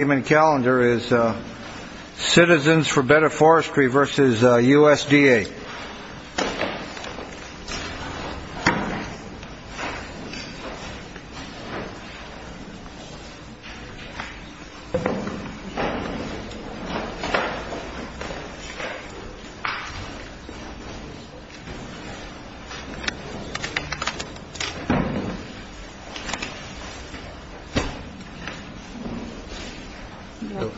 Citizens for Better Forestry v. USDA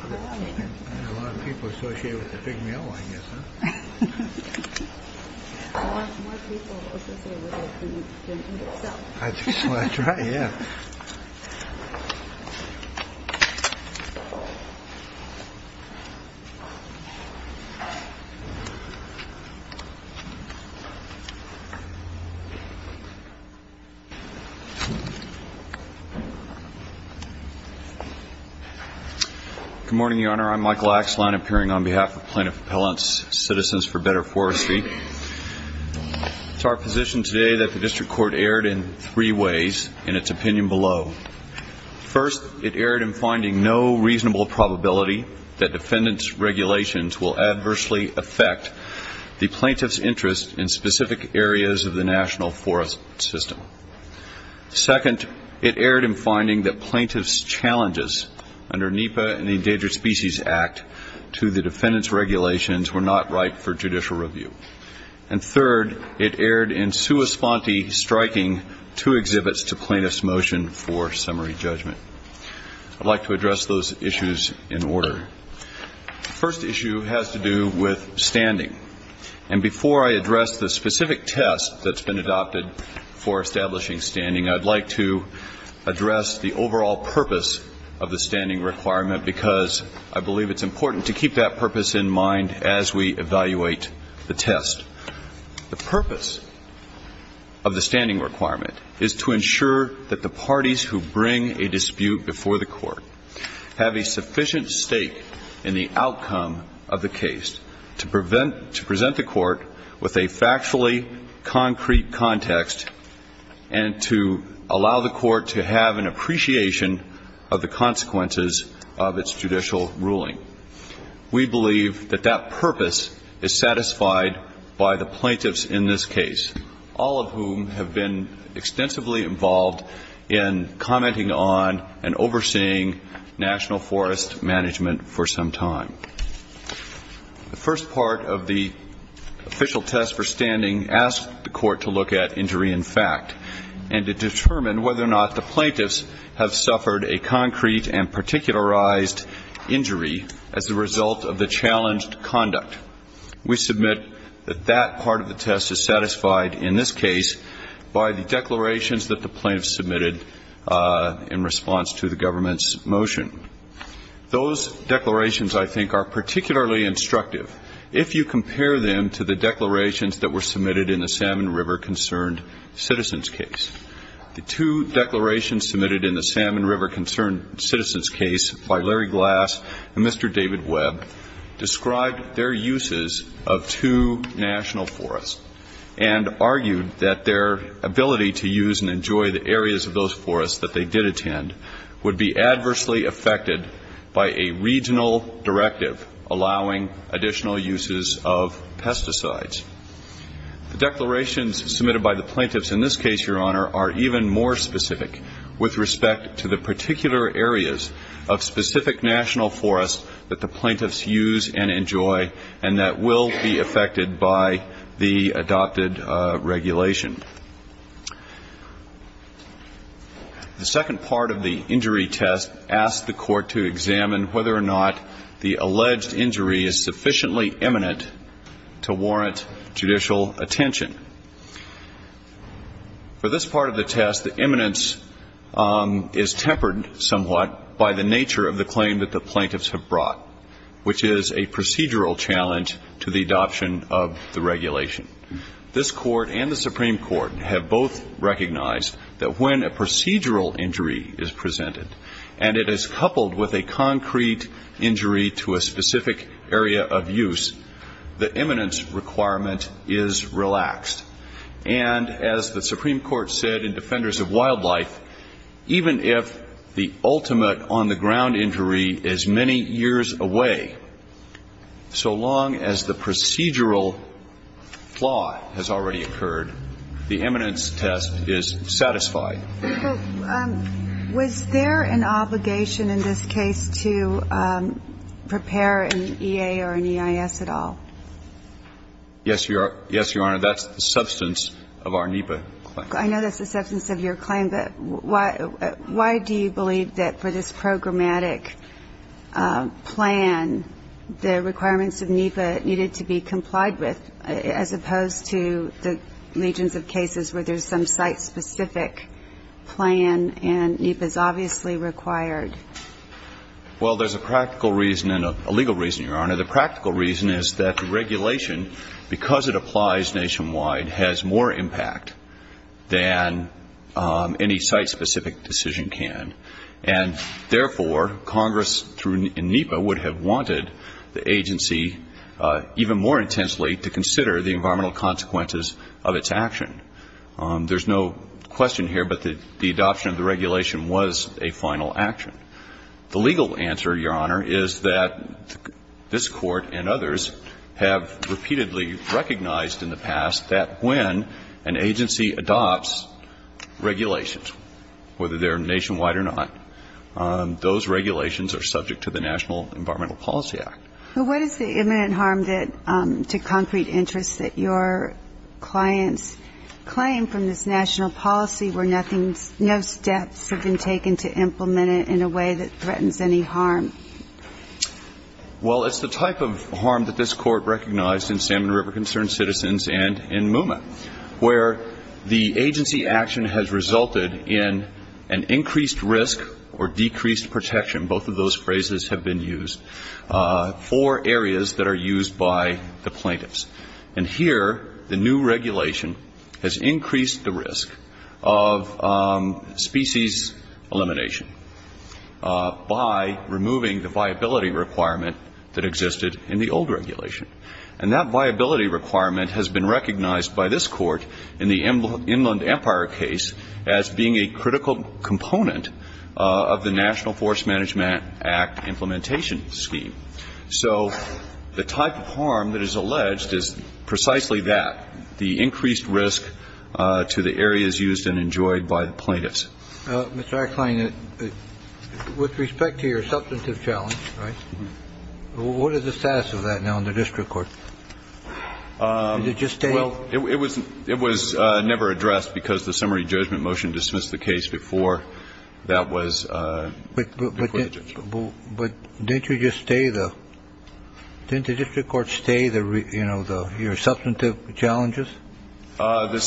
And a lot of people associate it with the pig maillot I guess. More people associate it with the pig itself. That's right, yeah. Good morning, Your Honor. I'm Michael Axelon, appearing on behalf of Plaintiff Appellant's Citizens for Better Forestry. It's our position today that the District Court erred in three ways, in its opinion below. First, it erred in finding no reasonable probability that defendant's regulations will adversely affect the plaintiff's interest in specific areas of the national forest system. Second, it erred in finding that plaintiff's challenges under NEPA and the Endangered Species Act to the defendant's regulations were not ripe for judicial review. And third, it erred in sua sponte striking two exhibits to plaintiff's motion for summary judgment. I'd like to address those issues in order. The first issue has to do with standing. And before I address the specific test that's been adopted for establishing standing, I'd like to address the overall purpose of the standing requirement, because I believe it's important to keep that purpose in mind as we evaluate the test. The purpose of the standing requirement is to ensure that the parties who bring a dispute before the court have a sufficient stake in the outcome of the case to present the court with a factually concrete context and to allow the court to have an appreciation of the consequences of its judicial ruling. We believe that that purpose is satisfied by the plaintiffs in this case, all of whom have been extensively involved in commenting on and overseeing national forest management for some time. The first part of the official test for standing asks the court to look at injury in fact and to determine whether or not the plaintiffs have suffered a concrete and particularized injury as a result of the challenged conduct. We submit that that part of the test is satisfied in this case by the declarations that the plaintiffs submitted in response to the government's motion. Those declarations, I think, are particularly instructive if you compare them to the declarations that were submitted in the Salmon River Concerned Citizens case. The two declarations submitted in the Salmon River Concerned Citizens case by Larry Glass and Mr. David Webb described their uses of two national forests and argued that their ability to use and enjoy the areas of those forests that they did attend would be adversely affected by a regional directive allowing additional uses of pesticides. The declarations submitted by the plaintiffs in this case, Your Honor, are even more specific with respect to the particular areas of specific national forests that the plaintiffs use and enjoy and that will be affected by the adopted regulation. The second part of the injury test asks the court to examine whether or not the alleged injury is sufficiently imminent to warrant judicial attention. For this part of the test, the imminence is tempered somewhat by the nature of the claim that the plaintiffs have brought, which is a procedural challenge to the adoption of the regulation. This Court and the Supreme Court have both recognized that when a procedural injury is presented and it is coupled with a concrete injury to a specific area of use, the imminence requirement is relaxed. And as the Supreme Court said in Defenders of Wildlife, even if the ultimate on-the-ground injury is many years away, so long as the procedural flaw has already occurred, the imminence test is satisfied. Was there an obligation in this case to prepare an EA or an EIS at all? Yes, Your Honor. That's the substance of our NEPA claim. I know that's the substance of your claim, but why do you believe that for this programmatic plan the requirements of NEPA needed to be complied with as opposed to the legions of cases where there's some site-specific plan and NEPA is obviously required? Well, there's a practical reason and a legal reason, Your Honor. The practical reason is that the regulation, because it applies nationwide, has more impact than any site-specific decision can. And therefore, Congress in NEPA would have wanted the agency even more intensely to consider the environmental consequences of its action. There's no question here, but the adoption of the regulation was a final action. The legal answer, Your Honor, is that this Court and others have repeatedly recognized in the past that when an agency adopts regulations, whether they're nationwide or not, those regulations are subject to the National Environmental Policy Act. But what is the imminent harm to concrete interests that your clients claim from this national policy where no steps have been taken to implement it in a way that threatens any harm? Well, it's the type of harm that this Court recognized in Salmon River Concerned Citizens and in MUMA, where the agency action has resulted in an increased risk or decreased protection. Both of those phrases have been used for areas that are used by the plaintiffs. And here, the new regulation has increased the risk of species elimination by removing the viability requirement that existed in the old regulation. And that viability requirement has been recognized by this Court in the Inland Empire case as being a critical component of the National Forest Management Act implementation scheme. So the type of harm that is alleged is precisely that, the increased risk to the areas used and enjoyed by the plaintiffs. Mr. Eichlein, with respect to your substantive challenge, right, what is the status of that now in the district court? Did it just stay? Well, it was never addressed because the summary judgment motion dismissed the case before that was included. But didn't you just stay the – didn't the district court stay the – you know, your substantive challenges? The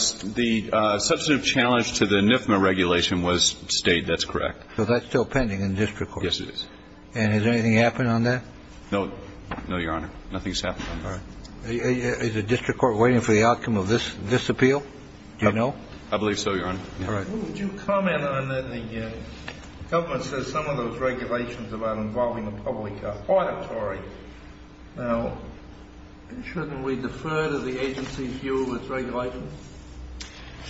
substantive challenge to the NIFMA regulation was stayed. That's correct. So that's still pending in the district court? Yes, it is. And has anything happened on that? No, Your Honor. Nothing's happened on that. All right. Is the district court waiting for the outcome of this appeal? Do you know? I believe so, Your Honor. All right. Well, would you comment on the – the government says some of those regulations about involving the public are auditory. Now, shouldn't we defer to the agency's view of its regulations?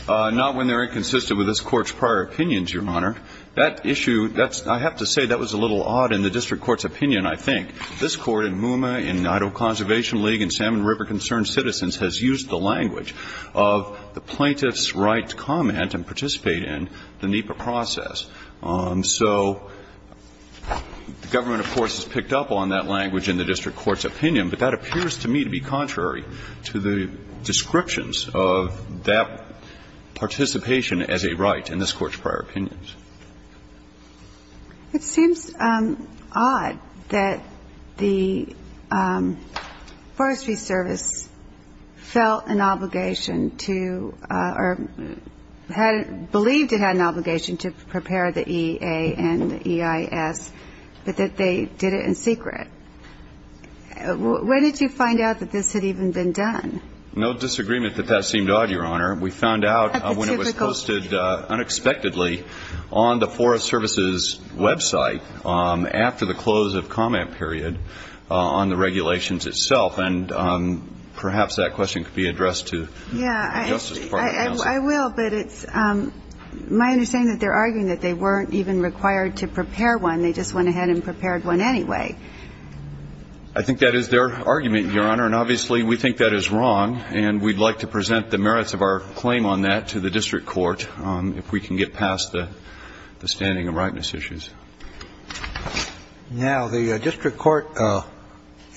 Not when they're inconsistent with this Court's prior opinions, Your Honor. That issue, that's – I have to say that was a little odd in the district court's opinion, I think. This Court in MUMA, in Idaho Conservation League, and Salmon River Concerned Citizens has used the language of the plaintiff's right to comment and participate in the NIFA process. So the government, of course, has picked up on that language in the district court's opinion, but that appears to me to be contrary to the descriptions of that participation as a right in this Court's prior opinions. It seems odd that the Forestry Service felt an obligation to – or had – believed it had an obligation to prepare the EA and the EIS, but that they did it in secret. When did you find out that this had even been done? No disagreement that that seemed odd, Your Honor. We found out when it was posted unexpectedly on the Forest Service's website after the close of comment period on the regulations itself. And perhaps that question could be addressed to the Justice Department. I will, but it's my understanding that they're arguing that they weren't even required to prepare one. They just went ahead and prepared one anyway. I think that is their argument, Your Honor. Your Honor, and obviously we think that is wrong, and we'd like to present the merits of our claim on that to the district court if we can get past the standing and rightness issues. Now, the district court,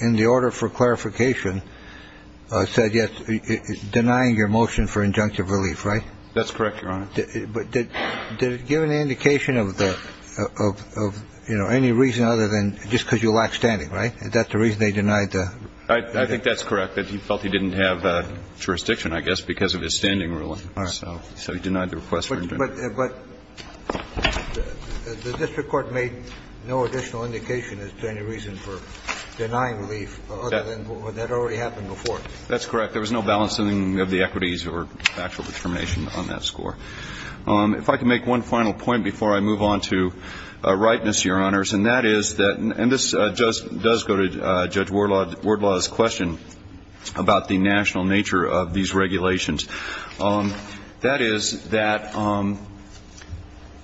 in the order for clarification, said yes, denying your motion for injunctive relief, right? That's correct, Your Honor. But did it give an indication of the – of, you know, any reason other than just because you lack standing, right? Is that the reason they denied the – I think that's correct, that he felt he didn't have jurisdiction, I guess, because of his standing ruling. All right. So he denied the request for injunctive relief. But the district court made no additional indication as to any reason for denying relief other than when that already happened before. That's correct. There was no balancing of the equities or factual determination on that score. If I can make one final point before I move on to rightness, Your Honors, and that is that – and this does go to Judge Wardlaw's question about the national nature of these regulations. That is that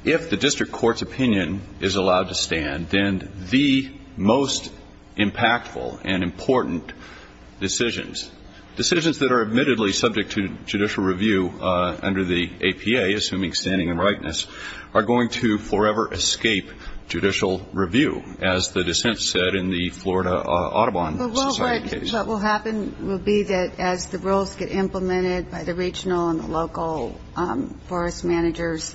if the district court's opinion is allowed to stand, then the most impactful and important decisions, decisions that are admittedly subject to judicial review under the APA, assuming standing and rightness, are going to forever escape judicial review, as the dissent said in the Florida Audubon Society case. What will happen will be that as the rules get implemented by the regional and local forest managers,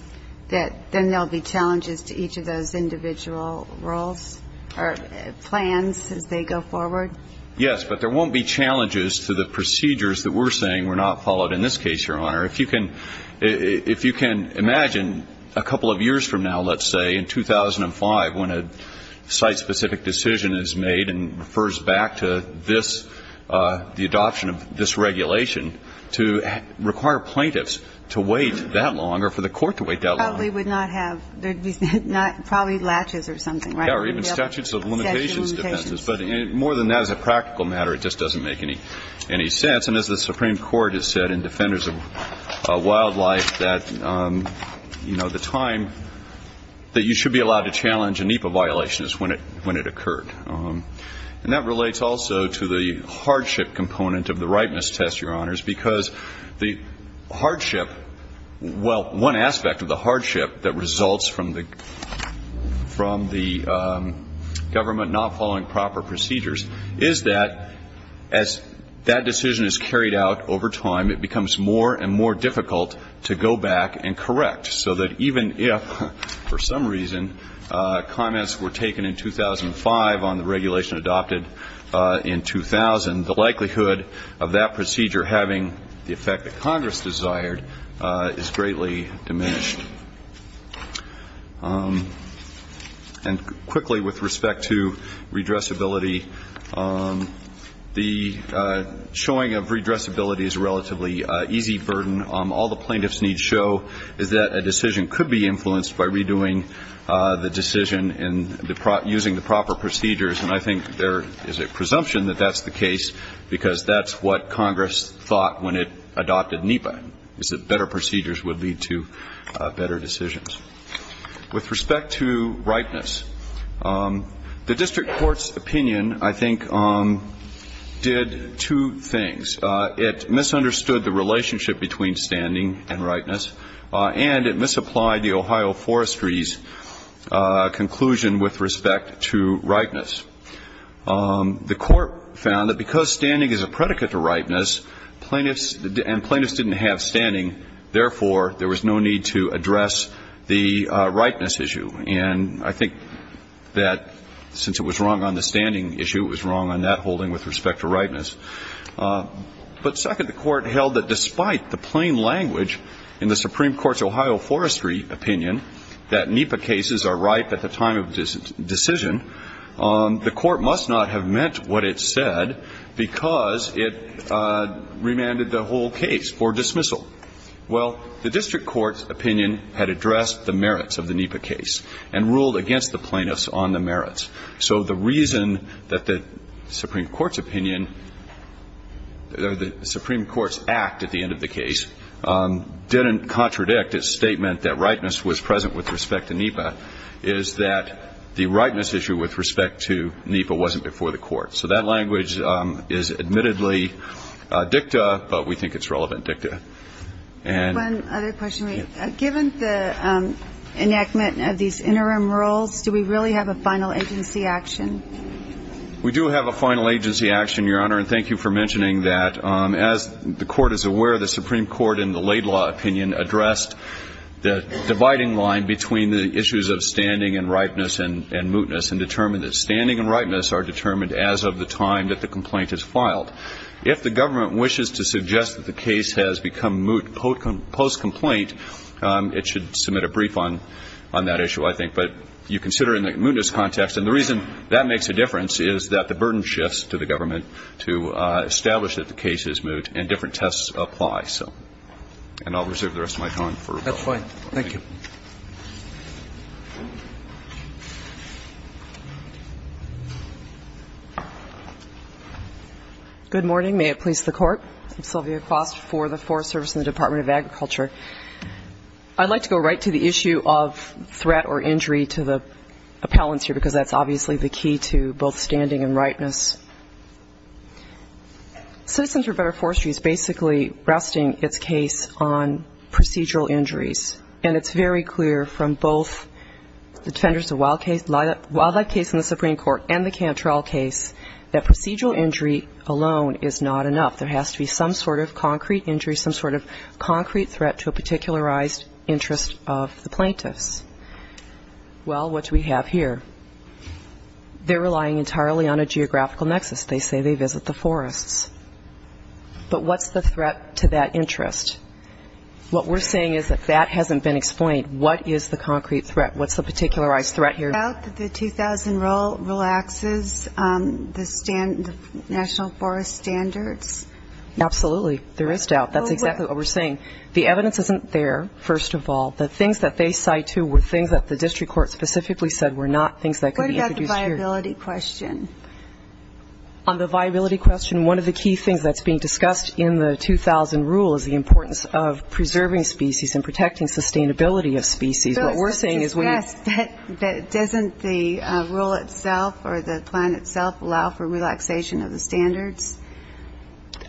that then there will be challenges to each of those individual rules or plans as they go forward? Yes. But there won't be challenges to the procedures that we're saying were not followed in this case, Your Honor. If you can imagine a couple of years from now, let's say, in 2005, when a site-specific decision is made and refers back to this, the adoption of this regulation, to require plaintiffs to wait that long or for the court to wait that long. Probably would not have – there would be probably latches or something, right? Yeah, or even statutes of limitations. But more than that, as a practical matter, it just doesn't make any sense. And as the Supreme Court has said in Defenders of Wildlife that, you know, the time that you should be allowed to challenge a NEPA violation is when it occurred. And that relates also to the hardship component of the rightness test, Your Honors, because the hardship – well, one aspect of the hardship that results from the government not following proper procedures is that as that decision is carried out over time, it becomes more and more difficult to go back and correct, so that even if, for some reason, comments were taken in 2005 on the regulation adopted in 2000, the likelihood of that procedure having the effect that Congress desired is greatly diminished. And quickly, with respect to redressability, the showing of redressability is a relatively easy burden. All the plaintiffs need show is that a decision could be influenced by redoing the decision and using the proper procedures. And I think there is a presumption that that's the case, because that's what Congress thought when it adopted NEPA, is that better procedures would lead to better decisions. With respect to rightness, the district court's opinion, I think, did two things. It misunderstood the relationship between standing and rightness, and it misapplied the Ohio Forestry's conclusion with respect to rightness. The court found that because standing is a predicate to rightness and plaintiffs didn't have standing, therefore there was no need to address the rightness issue. And I think that since it was wrong on the standing issue, it was wrong on that holding with respect to rightness. But second, the court held that despite the plain language in the Supreme Court's Ohio Forestry opinion that NEPA cases are right at the time of decision, the court must not have meant what it said because it remanded the whole case for dismissal. Well, the district court's opinion had addressed the merits of the NEPA case and ruled against the plaintiffs on the merits. So the reason that the Supreme Court's opinion or the Supreme Court's act at the end of the case didn't contradict its statement that rightness was present with respect to NEPA is that the rightness issue with respect to NEPA wasn't before the court. So that language is admittedly dicta, but we think it's relevant dicta. One other question. Given the enactment of these interim rules, do we really have a final agency action? We do have a final agency action, Your Honor, and thank you for mentioning that. As the Court is aware, the Supreme Court in the Laidlaw opinion addressed the dividing line between the issues of standing and rightness and mootness and determined that standing and rightness are determined as of the time that the complaint is filed. If the government wishes to suggest that the case has become moot post-complaint, it should submit a brief on that issue, I think. But you consider it in the mootness context, and the reason that makes a difference is that the burden shifts to the government to establish that the case is moot and different tests apply. And I'll reserve the rest of my time for rebuttal. That's fine. Thank you. Good morning. May it please the Court. I'm Sylvia Cross for the Forest Service and the Department of Agriculture. I'd like to go right to the issue of threat or injury to the appellants here because that's obviously the key to both standing and rightness. Citizens for a Better Forestry is basically resting its case on procedural injuries, and it's very clear from both the Defenders of Wildlife case in the Supreme Court and the Cantrell case that procedural injury alone is not enough. There has to be some sort of concrete injury, some sort of concrete threat to a particularized interest of the plaintiffs. Well, what do we have here? They're relying entirely on a geographical nexus. They say they visit the forests. But what's the threat to that interest? What we're saying is that that hasn't been explained. What is the concrete threat? What's the particularized threat here? Is there doubt that the 2000 rule relaxes the national forest standards? Absolutely. There is doubt. That's exactly what we're saying. The evidence isn't there, first of all. The things that they cite, too, were things that the district court specifically said were not things that could be introduced here. What about the viability question? On the viability question, one of the key things that's being discussed in the 2000 rule is the importance of preserving species and protecting sustainability of species. What we're saying is we Doesn't the rule itself or the plan itself allow for relaxation of the standards?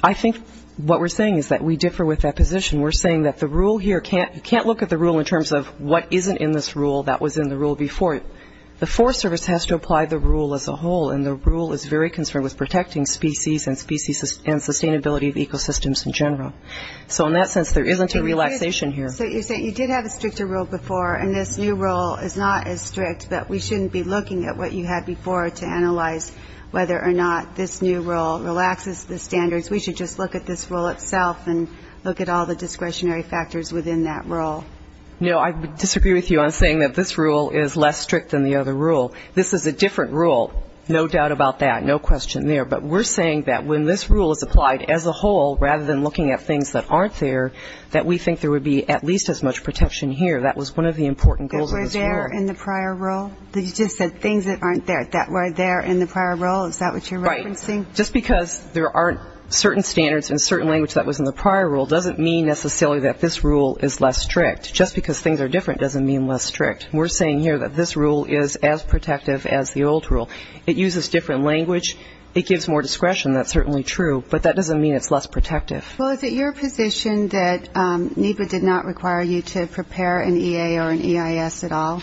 I think what we're saying is that we differ with that position. We're saying that the rule here, you can't look at the rule in terms of what isn't in this rule that was in the rule before it. The Forest Service has to apply the rule as a whole, and the rule is very concerned with protecting species and sustainability of ecosystems in general. So in that sense, there isn't a relaxation here. So you're saying you did have a stricter rule before, and this new rule is not as strict, but we shouldn't be looking at what you had before to analyze whether or not this new rule relaxes the standards. We should just look at this rule itself and look at all the discretionary factors within that rule. No, I disagree with you on saying that this rule is less strict than the other rule. This is a different rule, no doubt about that, no question there. But we're saying that when this rule is applied as a whole, rather than looking at things that aren't there, that we think there would be at least as much protection here. That was one of the important goals of this rule. That were there in the prior rule? You just said things that aren't there. That were there in the prior rule, is that what you're referencing? Right. Just because there aren't certain standards in a certain language that was in the prior rule doesn't mean necessarily that this rule is less strict. Just because things are different doesn't mean less strict. We're saying here that this rule is as protective as the old rule. It uses different language, it gives more discretion, that's certainly true, but that doesn't mean it's less protective. Well, is it your position that NEPA did not require you to prepare an EA or an EIS at all?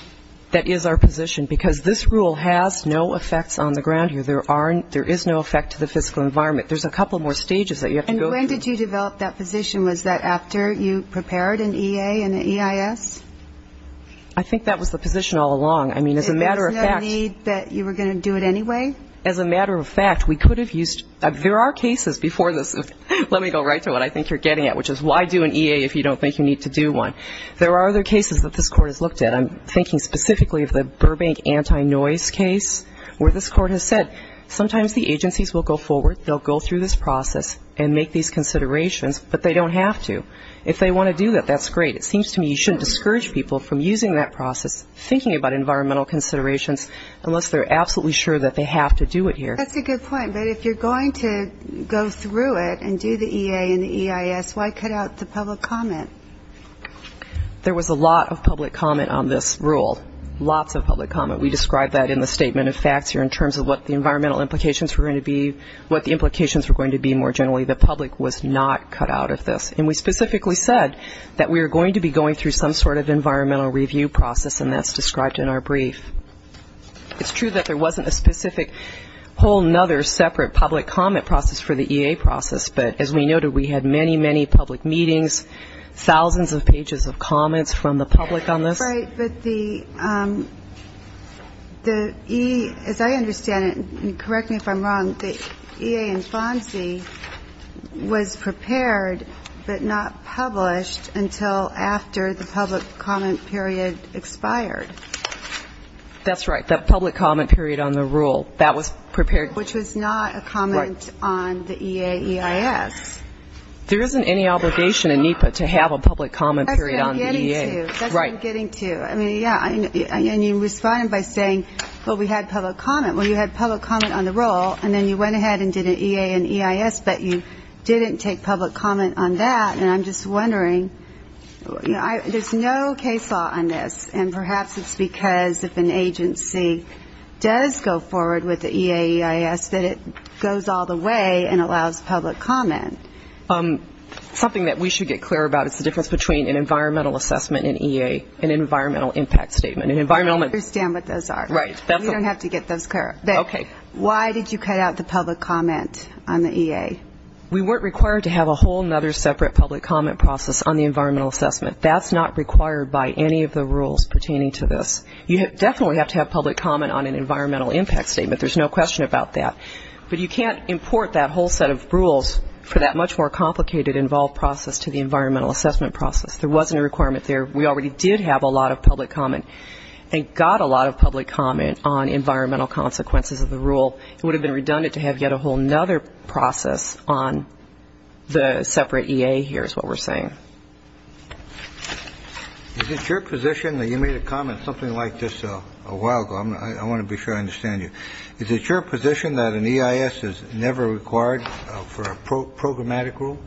That is our position, because this rule has no effects on the ground here. There is no effect to the fiscal environment. There's a couple more stages that you have to go through. And when did you develop that position? Was that after you prepared an EA and an EIS? I think that was the position all along. I mean, as a matter of fact. There was no need that you were going to do it anyway? As a matter of fact, we could have used – there are cases before this. Let me go right to what I think you're getting at, which is why do an EA if you don't think you need to do one? There are other cases that this court has looked at. I'm thinking specifically of the Burbank anti-noise case, where this court has said, sometimes the agencies will go forward, they'll go through this process and make these considerations, but they don't have to. If they want to do that, that's great. It seems to me you shouldn't discourage people from using that process, thinking about environmental considerations, unless they're absolutely sure that they have to do it here. That's a good point. But if you're going to go through it and do the EA and the EIS, why cut out the public comment? There was a lot of public comment on this rule, lots of public comment. We described that in the statement of facts here in terms of what the environmental implications were going to be, what the implications were going to be more generally. The public was not cut out of this. And we specifically said that we were going to be going through some sort of environmental review process, and that's described in our brief. It's true that there wasn't a specific whole other separate public comment process for the EA process, but as we noted, we had many, many public meetings, thousands of pages of comments from the public on this. Right, but the EA, as I understand it, and correct me if I'm wrong, the EA and FONSI was prepared but not published until after the public comment period expired. That's right, the public comment period on the rule. That was prepared. Which was not a comment on the EA, EIS. There isn't any obligation in NEPA to have a public comment period on the EA. That's what I'm getting to. Right. That's what I'm getting to. I mean, yeah, and you responded by saying, well, we had public comment. Well, you had public comment on the rule, and then you went ahead and did an EA and EIS, but you didn't take public comment on that, and I'm just wondering. There's no case law on this, and perhaps it's because if an agency does go forward with the EA, EIS, that it goes all the way and allows public comment. Something that we should get clear about is the difference between an environmental assessment in EA and an environmental impact statement. I understand what those are. Right. We don't have to get those clear. Okay. Why did you cut out the public comment on the EA? We weren't required to have a whole other separate public comment process on the environmental assessment. That's not required by any of the rules pertaining to this. You definitely have to have public comment on an environmental impact statement. There's no question about that. But you can't import that whole set of rules for that much more complicated involved process to the environmental assessment process. There wasn't a requirement there. We already did have a lot of public comment and got a lot of public comment on environmental consequences of the rule. It would have been redundant to have yet a whole other process on the separate EA here is what we're saying. Is it your position that you made a comment something like this a while ago? I want to be sure I understand you. Is it your position that an EIS is never required for a programmatic rule?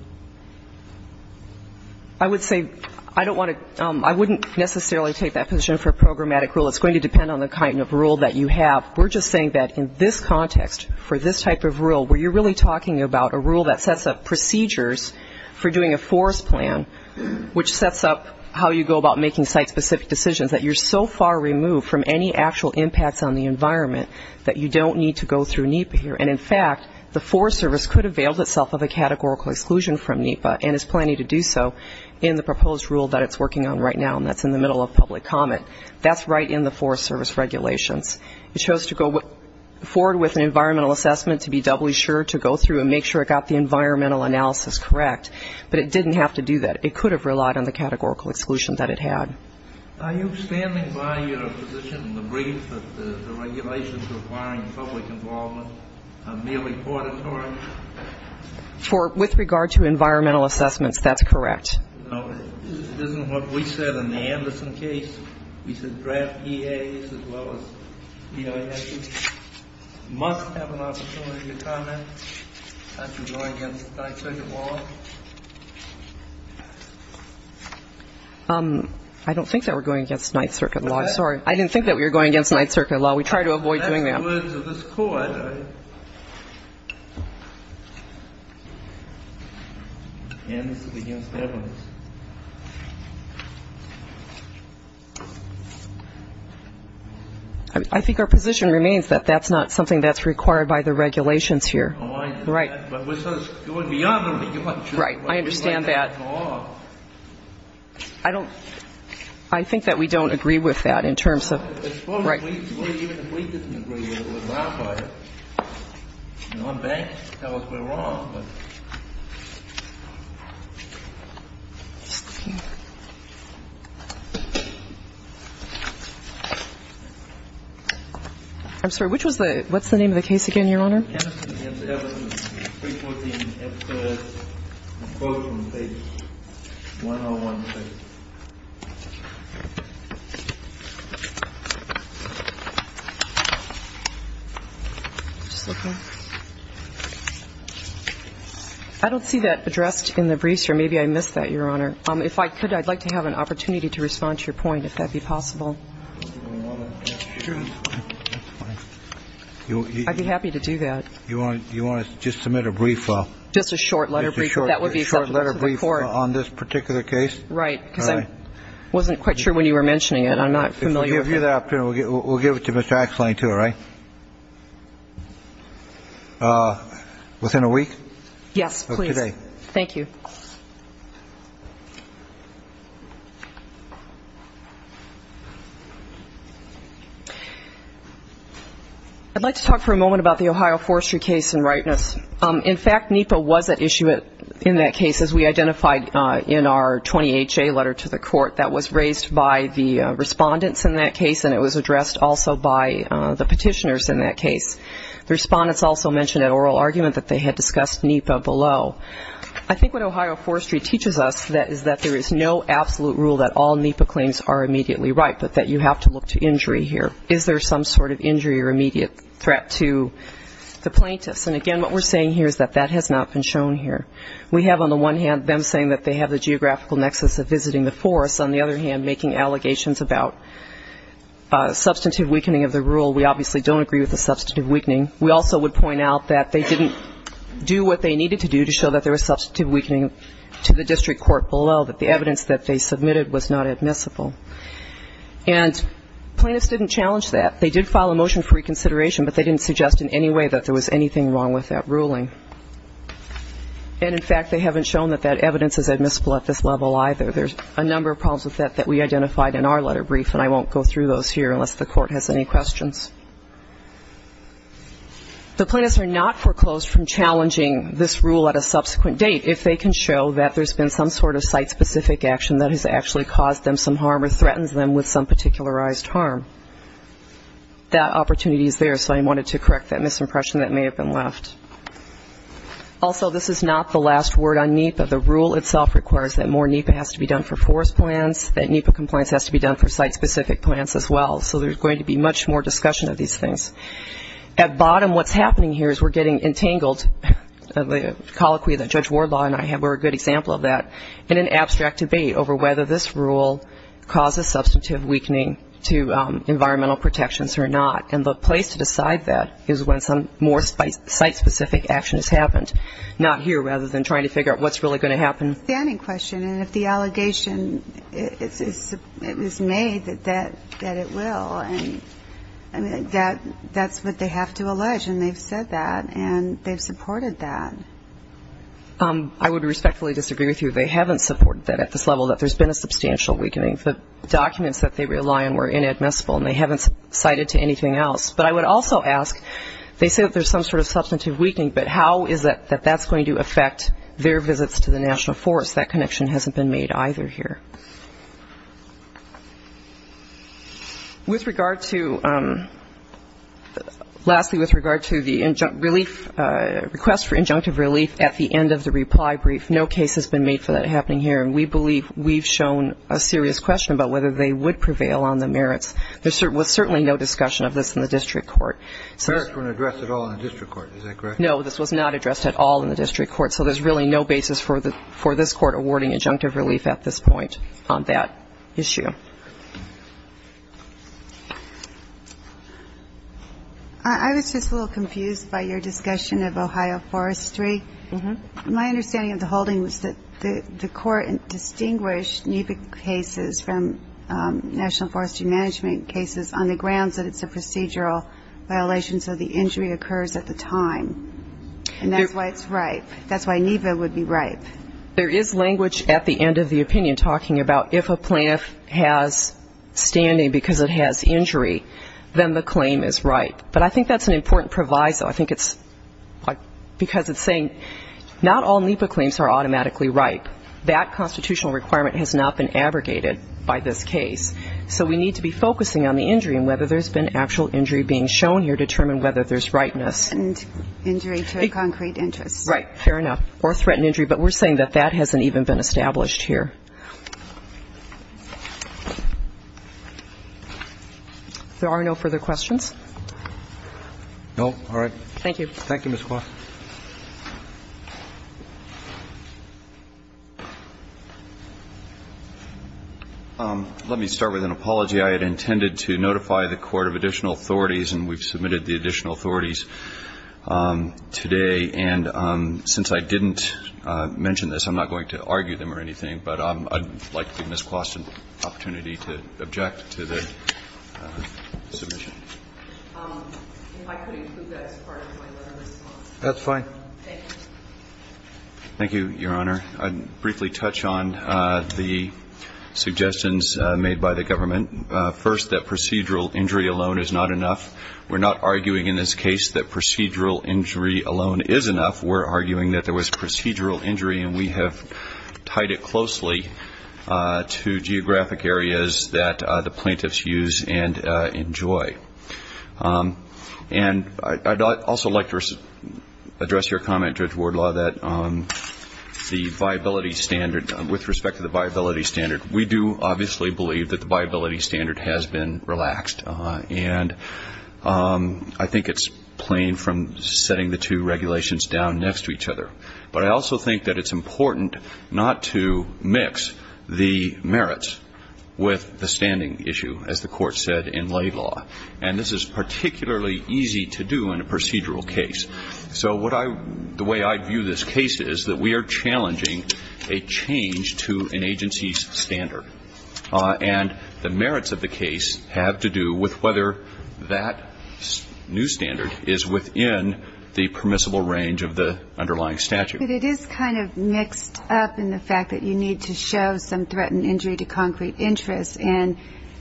I would say I don't want to – I wouldn't necessarily take that position for a programmatic rule. It's going to depend on the kind of rule that you have. We're just saying that in this context, for this type of rule, where you're really talking about a rule that sets up procedures for doing a forest plan, which sets up how you go about making site-specific decisions, that you're so far removed from any actual impacts on the environment that you don't need to go through NEPA here. And, in fact, the Forest Service could avail itself of a categorical exclusion from NEPA and is planning to do so in the proposed rule that it's working on right now, and that's in the middle of public comment. That's right in the Forest Service regulations. It chose to go forward with an environmental assessment to be doubly sure to go through and make sure it got the environmental analysis correct, but it didn't have to do that. It could have relied on the categorical exclusion that it had. Are you standing by your position in the brief that the regulations requiring public involvement are merely auditory? With regard to environmental assessments, that's correct. This isn't what we said in the Anderson case. We said draft EAs as well as EISs must have an opportunity to comment. That's going against Ninth Circuit law. I don't think that we're going against Ninth Circuit law. Sorry. I didn't think that we were going against Ninth Circuit law. We try to avoid doing that. That's the words of this Court. I think our position remains that that's not something that's required by the regulations here. Oh, I understand. Right. But with those going beyond the regulations. Right. I understand that. I think that we don't agree with that in terms of ñ right. I'm sorry. Which was the ñ what's the name of the case again, Your Honor? Anderson v. Everton, 314, F-3rd, quote from page 101, page 101. I don't see that addressed in the briefs, or maybe I missed that, Your Honor. If I could, I'd like to have an opportunity to respond to your point, if that be possible. Sure. I'd be happy to do that. You want to just submit a brief? Just a short letter brief. Just a short letter brief on this particular case? Right, because I wasn't quite sure when you were mentioning it. I'm not familiar with that. We'll give you that opportunity. We'll give it to Mr. Axellein, too, all right? Within a week? Yes, please. Of today. Thank you. I'd like to talk for a moment about the Ohio Forestry case in rightness. In fact, NEPA was at issue in that case, as we identified in our 20HA letter to the court that was raised by the respondents in that case, and it was addressed also by the petitioners in that case. The respondents also mentioned an oral argument that they had discussed NEPA below. I think what Ohio Forestry teaches us is that there is no absolute rule that all NEPA claims are immediately right, but that you have to look to injury here. Is there some sort of injury or immediate threat to the plaintiffs? And, again, what we're saying here is that that has not been shown here. We have on the one hand them saying that they have the geographical nexus of visiting the forest, on the other hand making allegations about substantive weakening of the rule. We obviously don't agree with the substantive weakening. We also would point out that they didn't do what they needed to do to show that there was substantive weakening to the district court below, that the evidence that they submitted was not admissible. And plaintiffs didn't challenge that. They did file a motion for reconsideration, but they didn't suggest in any way that there was anything wrong with that ruling. And, in fact, they haven't shown that that evidence is admissible at this level either. There's a number of problems with that that we identified in our letter brief, and I won't go through those here unless the court has any questions. The plaintiffs are not foreclosed from challenging this rule at a subsequent date if they can show that there's been some sort of site-specific action that has actually caused them some harm or threatens them with some particularized harm. That opportunity is there, so I wanted to correct that misimpression that may have been left. Also, this is not the last word on NEPA. The rule itself requires that more NEPA has to be done for forest plans, that NEPA compliance has to be done for site-specific plans as well. So there's going to be much more discussion of these things. At bottom, what's happening here is we're getting entangled, the colloquy that Judge Wardlaw and I were a good example of that, in an abstract debate over whether this rule causes substantive weakening to environmental protections or not. And the place to decide that is when some more site-specific action has happened, not here rather than trying to figure out what's really going to happen. It's a standing question, and if the allegation is made that it will, that's what they have to allege, and they've said that, and they've supported that. I would respectfully disagree with you. They haven't supported that at this level, that there's been a substantial weakening. The documents that they rely on were inadmissible, and they haven't cited to anything else. But I would also ask, they say that there's some sort of substantive weakening, but how is it that that's going to affect their visits to the National Forest? That connection hasn't been made either here. With regard to, lastly, with regard to the relief, request for injunctive relief at the end of the reply brief, no case has been made for that happening here, and we believe we've shown a serious question about whether they would prevail on the merits. There was certainly no discussion of this in the district court. The merits weren't addressed at all in the district court, is that correct? No, this was not addressed at all in the district court, so there's really no basis for this Court awarding injunctive relief at this point. I was just a little confused by your discussion of Ohio Forestry. My understanding of the holding was that the court distinguished NEPA cases from National Forestry Management cases on the grounds that it's a procedural violation, so the injury occurs at the time, and that's why it's ripe. That's why NEPA would be ripe. There is language at the end of the opinion talking about if a plaintiff has standing because it has injury, then the claim is ripe, but I think that's an important proviso. I think it's because it's saying not all NEPA claims are automatically ripe. That constitutional requirement has not been abrogated by this case, so we need to be focusing on the injury and whether there's been actual injury being shown here to determine whether there's ripeness. And injury to a concrete interest. Right. Fair enough. Or threat and injury, but we're saying that that hasn't even been established here. If there are no further questions. No. All right. Thank you. Thank you, Ms. Kwasi. Let me start with an apology. I had intended to notify the Court of Additional Authorities, and we've submitted the Additional Authorities today. And since I didn't mention this, I'm not going to argue them or anything, but I'd like to give Ms. Kwasi an opportunity to object to the submission. If I could include that as part of my letter of response. That's fine. Thank you. Thank you, Your Honor. I'd briefly touch on the suggestions made by the government. First, that procedural injury alone is not enough. We're not arguing in this case that procedural injury alone is enough. We're arguing that there was procedural injury, and we have tied it closely to geographic areas that the plaintiffs use and enjoy. And I'd also like to address your comment, Judge Wardlaw, that the viability standard, with respect to the viability standard, we do obviously believe that the viability standard has been relaxed. And I think it's plain from setting the two regulations down next to each other. But I also think that it's important not to mix the merits with the standing issue, as the Court said in Laidlaw. And this is particularly easy to do in a procedural case. So the way I view this case is that we are challenging a change to an agency's standard. And the merits of the case have to do with whether that new standard is within the permissible range of the underlying statute. But it is kind of mixed up in the fact that you need to show some threatened injury to concrete interest, and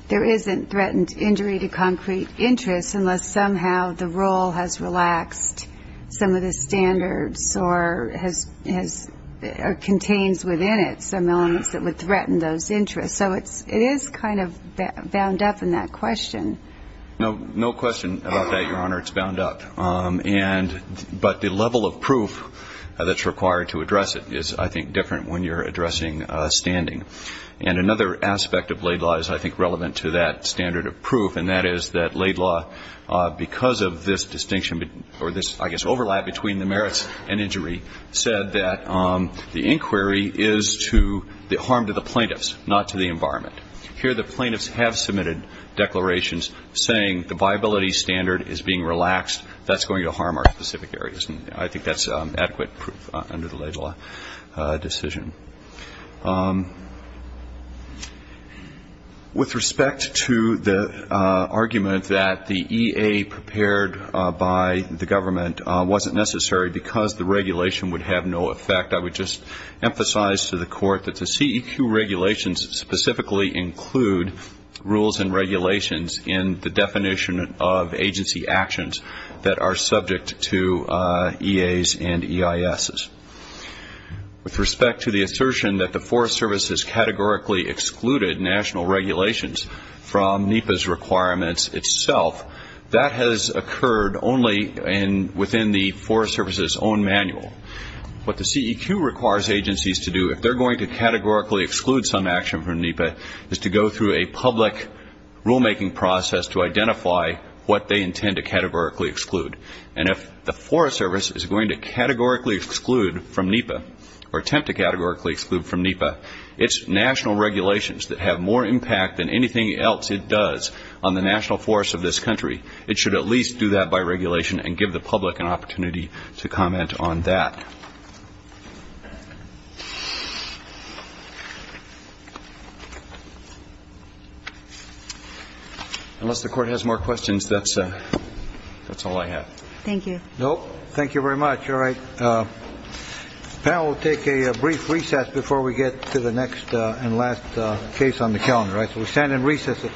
there isn't threatened injury to concrete interest unless somehow the rule has relaxed some of the standards or contains within it some elements that would threaten those interests. So it is kind of bound up in that question. No question about that, Your Honor. It's bound up. But the level of proof that's required to address it is, I think, different when you're addressing standing. And another aspect of Laidlaw is, I think, relevant to that standard of proof, and that is that Laidlaw, because of this distinction or this, I guess, overlap between the merits and injury, said that the inquiry is to harm to the plaintiffs, not to the environment. Here the plaintiffs have submitted declarations saying the viability standard is being relaxed. That's going to harm our specific areas. And I think that's adequate proof under the Laidlaw decision. With respect to the argument that the EA prepared by the government wasn't necessary because the regulation would have no effect, I would just emphasize to the Court that the CEQ regulations specifically include rules and regulations in the definition of agency actions that are subject to EAs and EISs. With respect to the assertion that the Forest Service has categorically excluded national regulations from NEPA's requirements itself, that has occurred only within the Forest Service's own manual. What the CEQ requires agencies to do, if they're going to categorically exclude some action from NEPA, is to go through a public rulemaking process to identify what they intend to categorically exclude. And if the Forest Service is going to categorically exclude from NEPA or attempt to categorically exclude from NEPA its national regulations that have more impact than anything else it does on the national forests of this country, it should at least do that by regulation and give the public an opportunity to comment on that. Unless the Court has more questions, that's all I have. Thank you. Thank you very much. All right. The panel will take a brief recess before we get to the next and last case on the calendar. So we stand in recess at this time. All rise.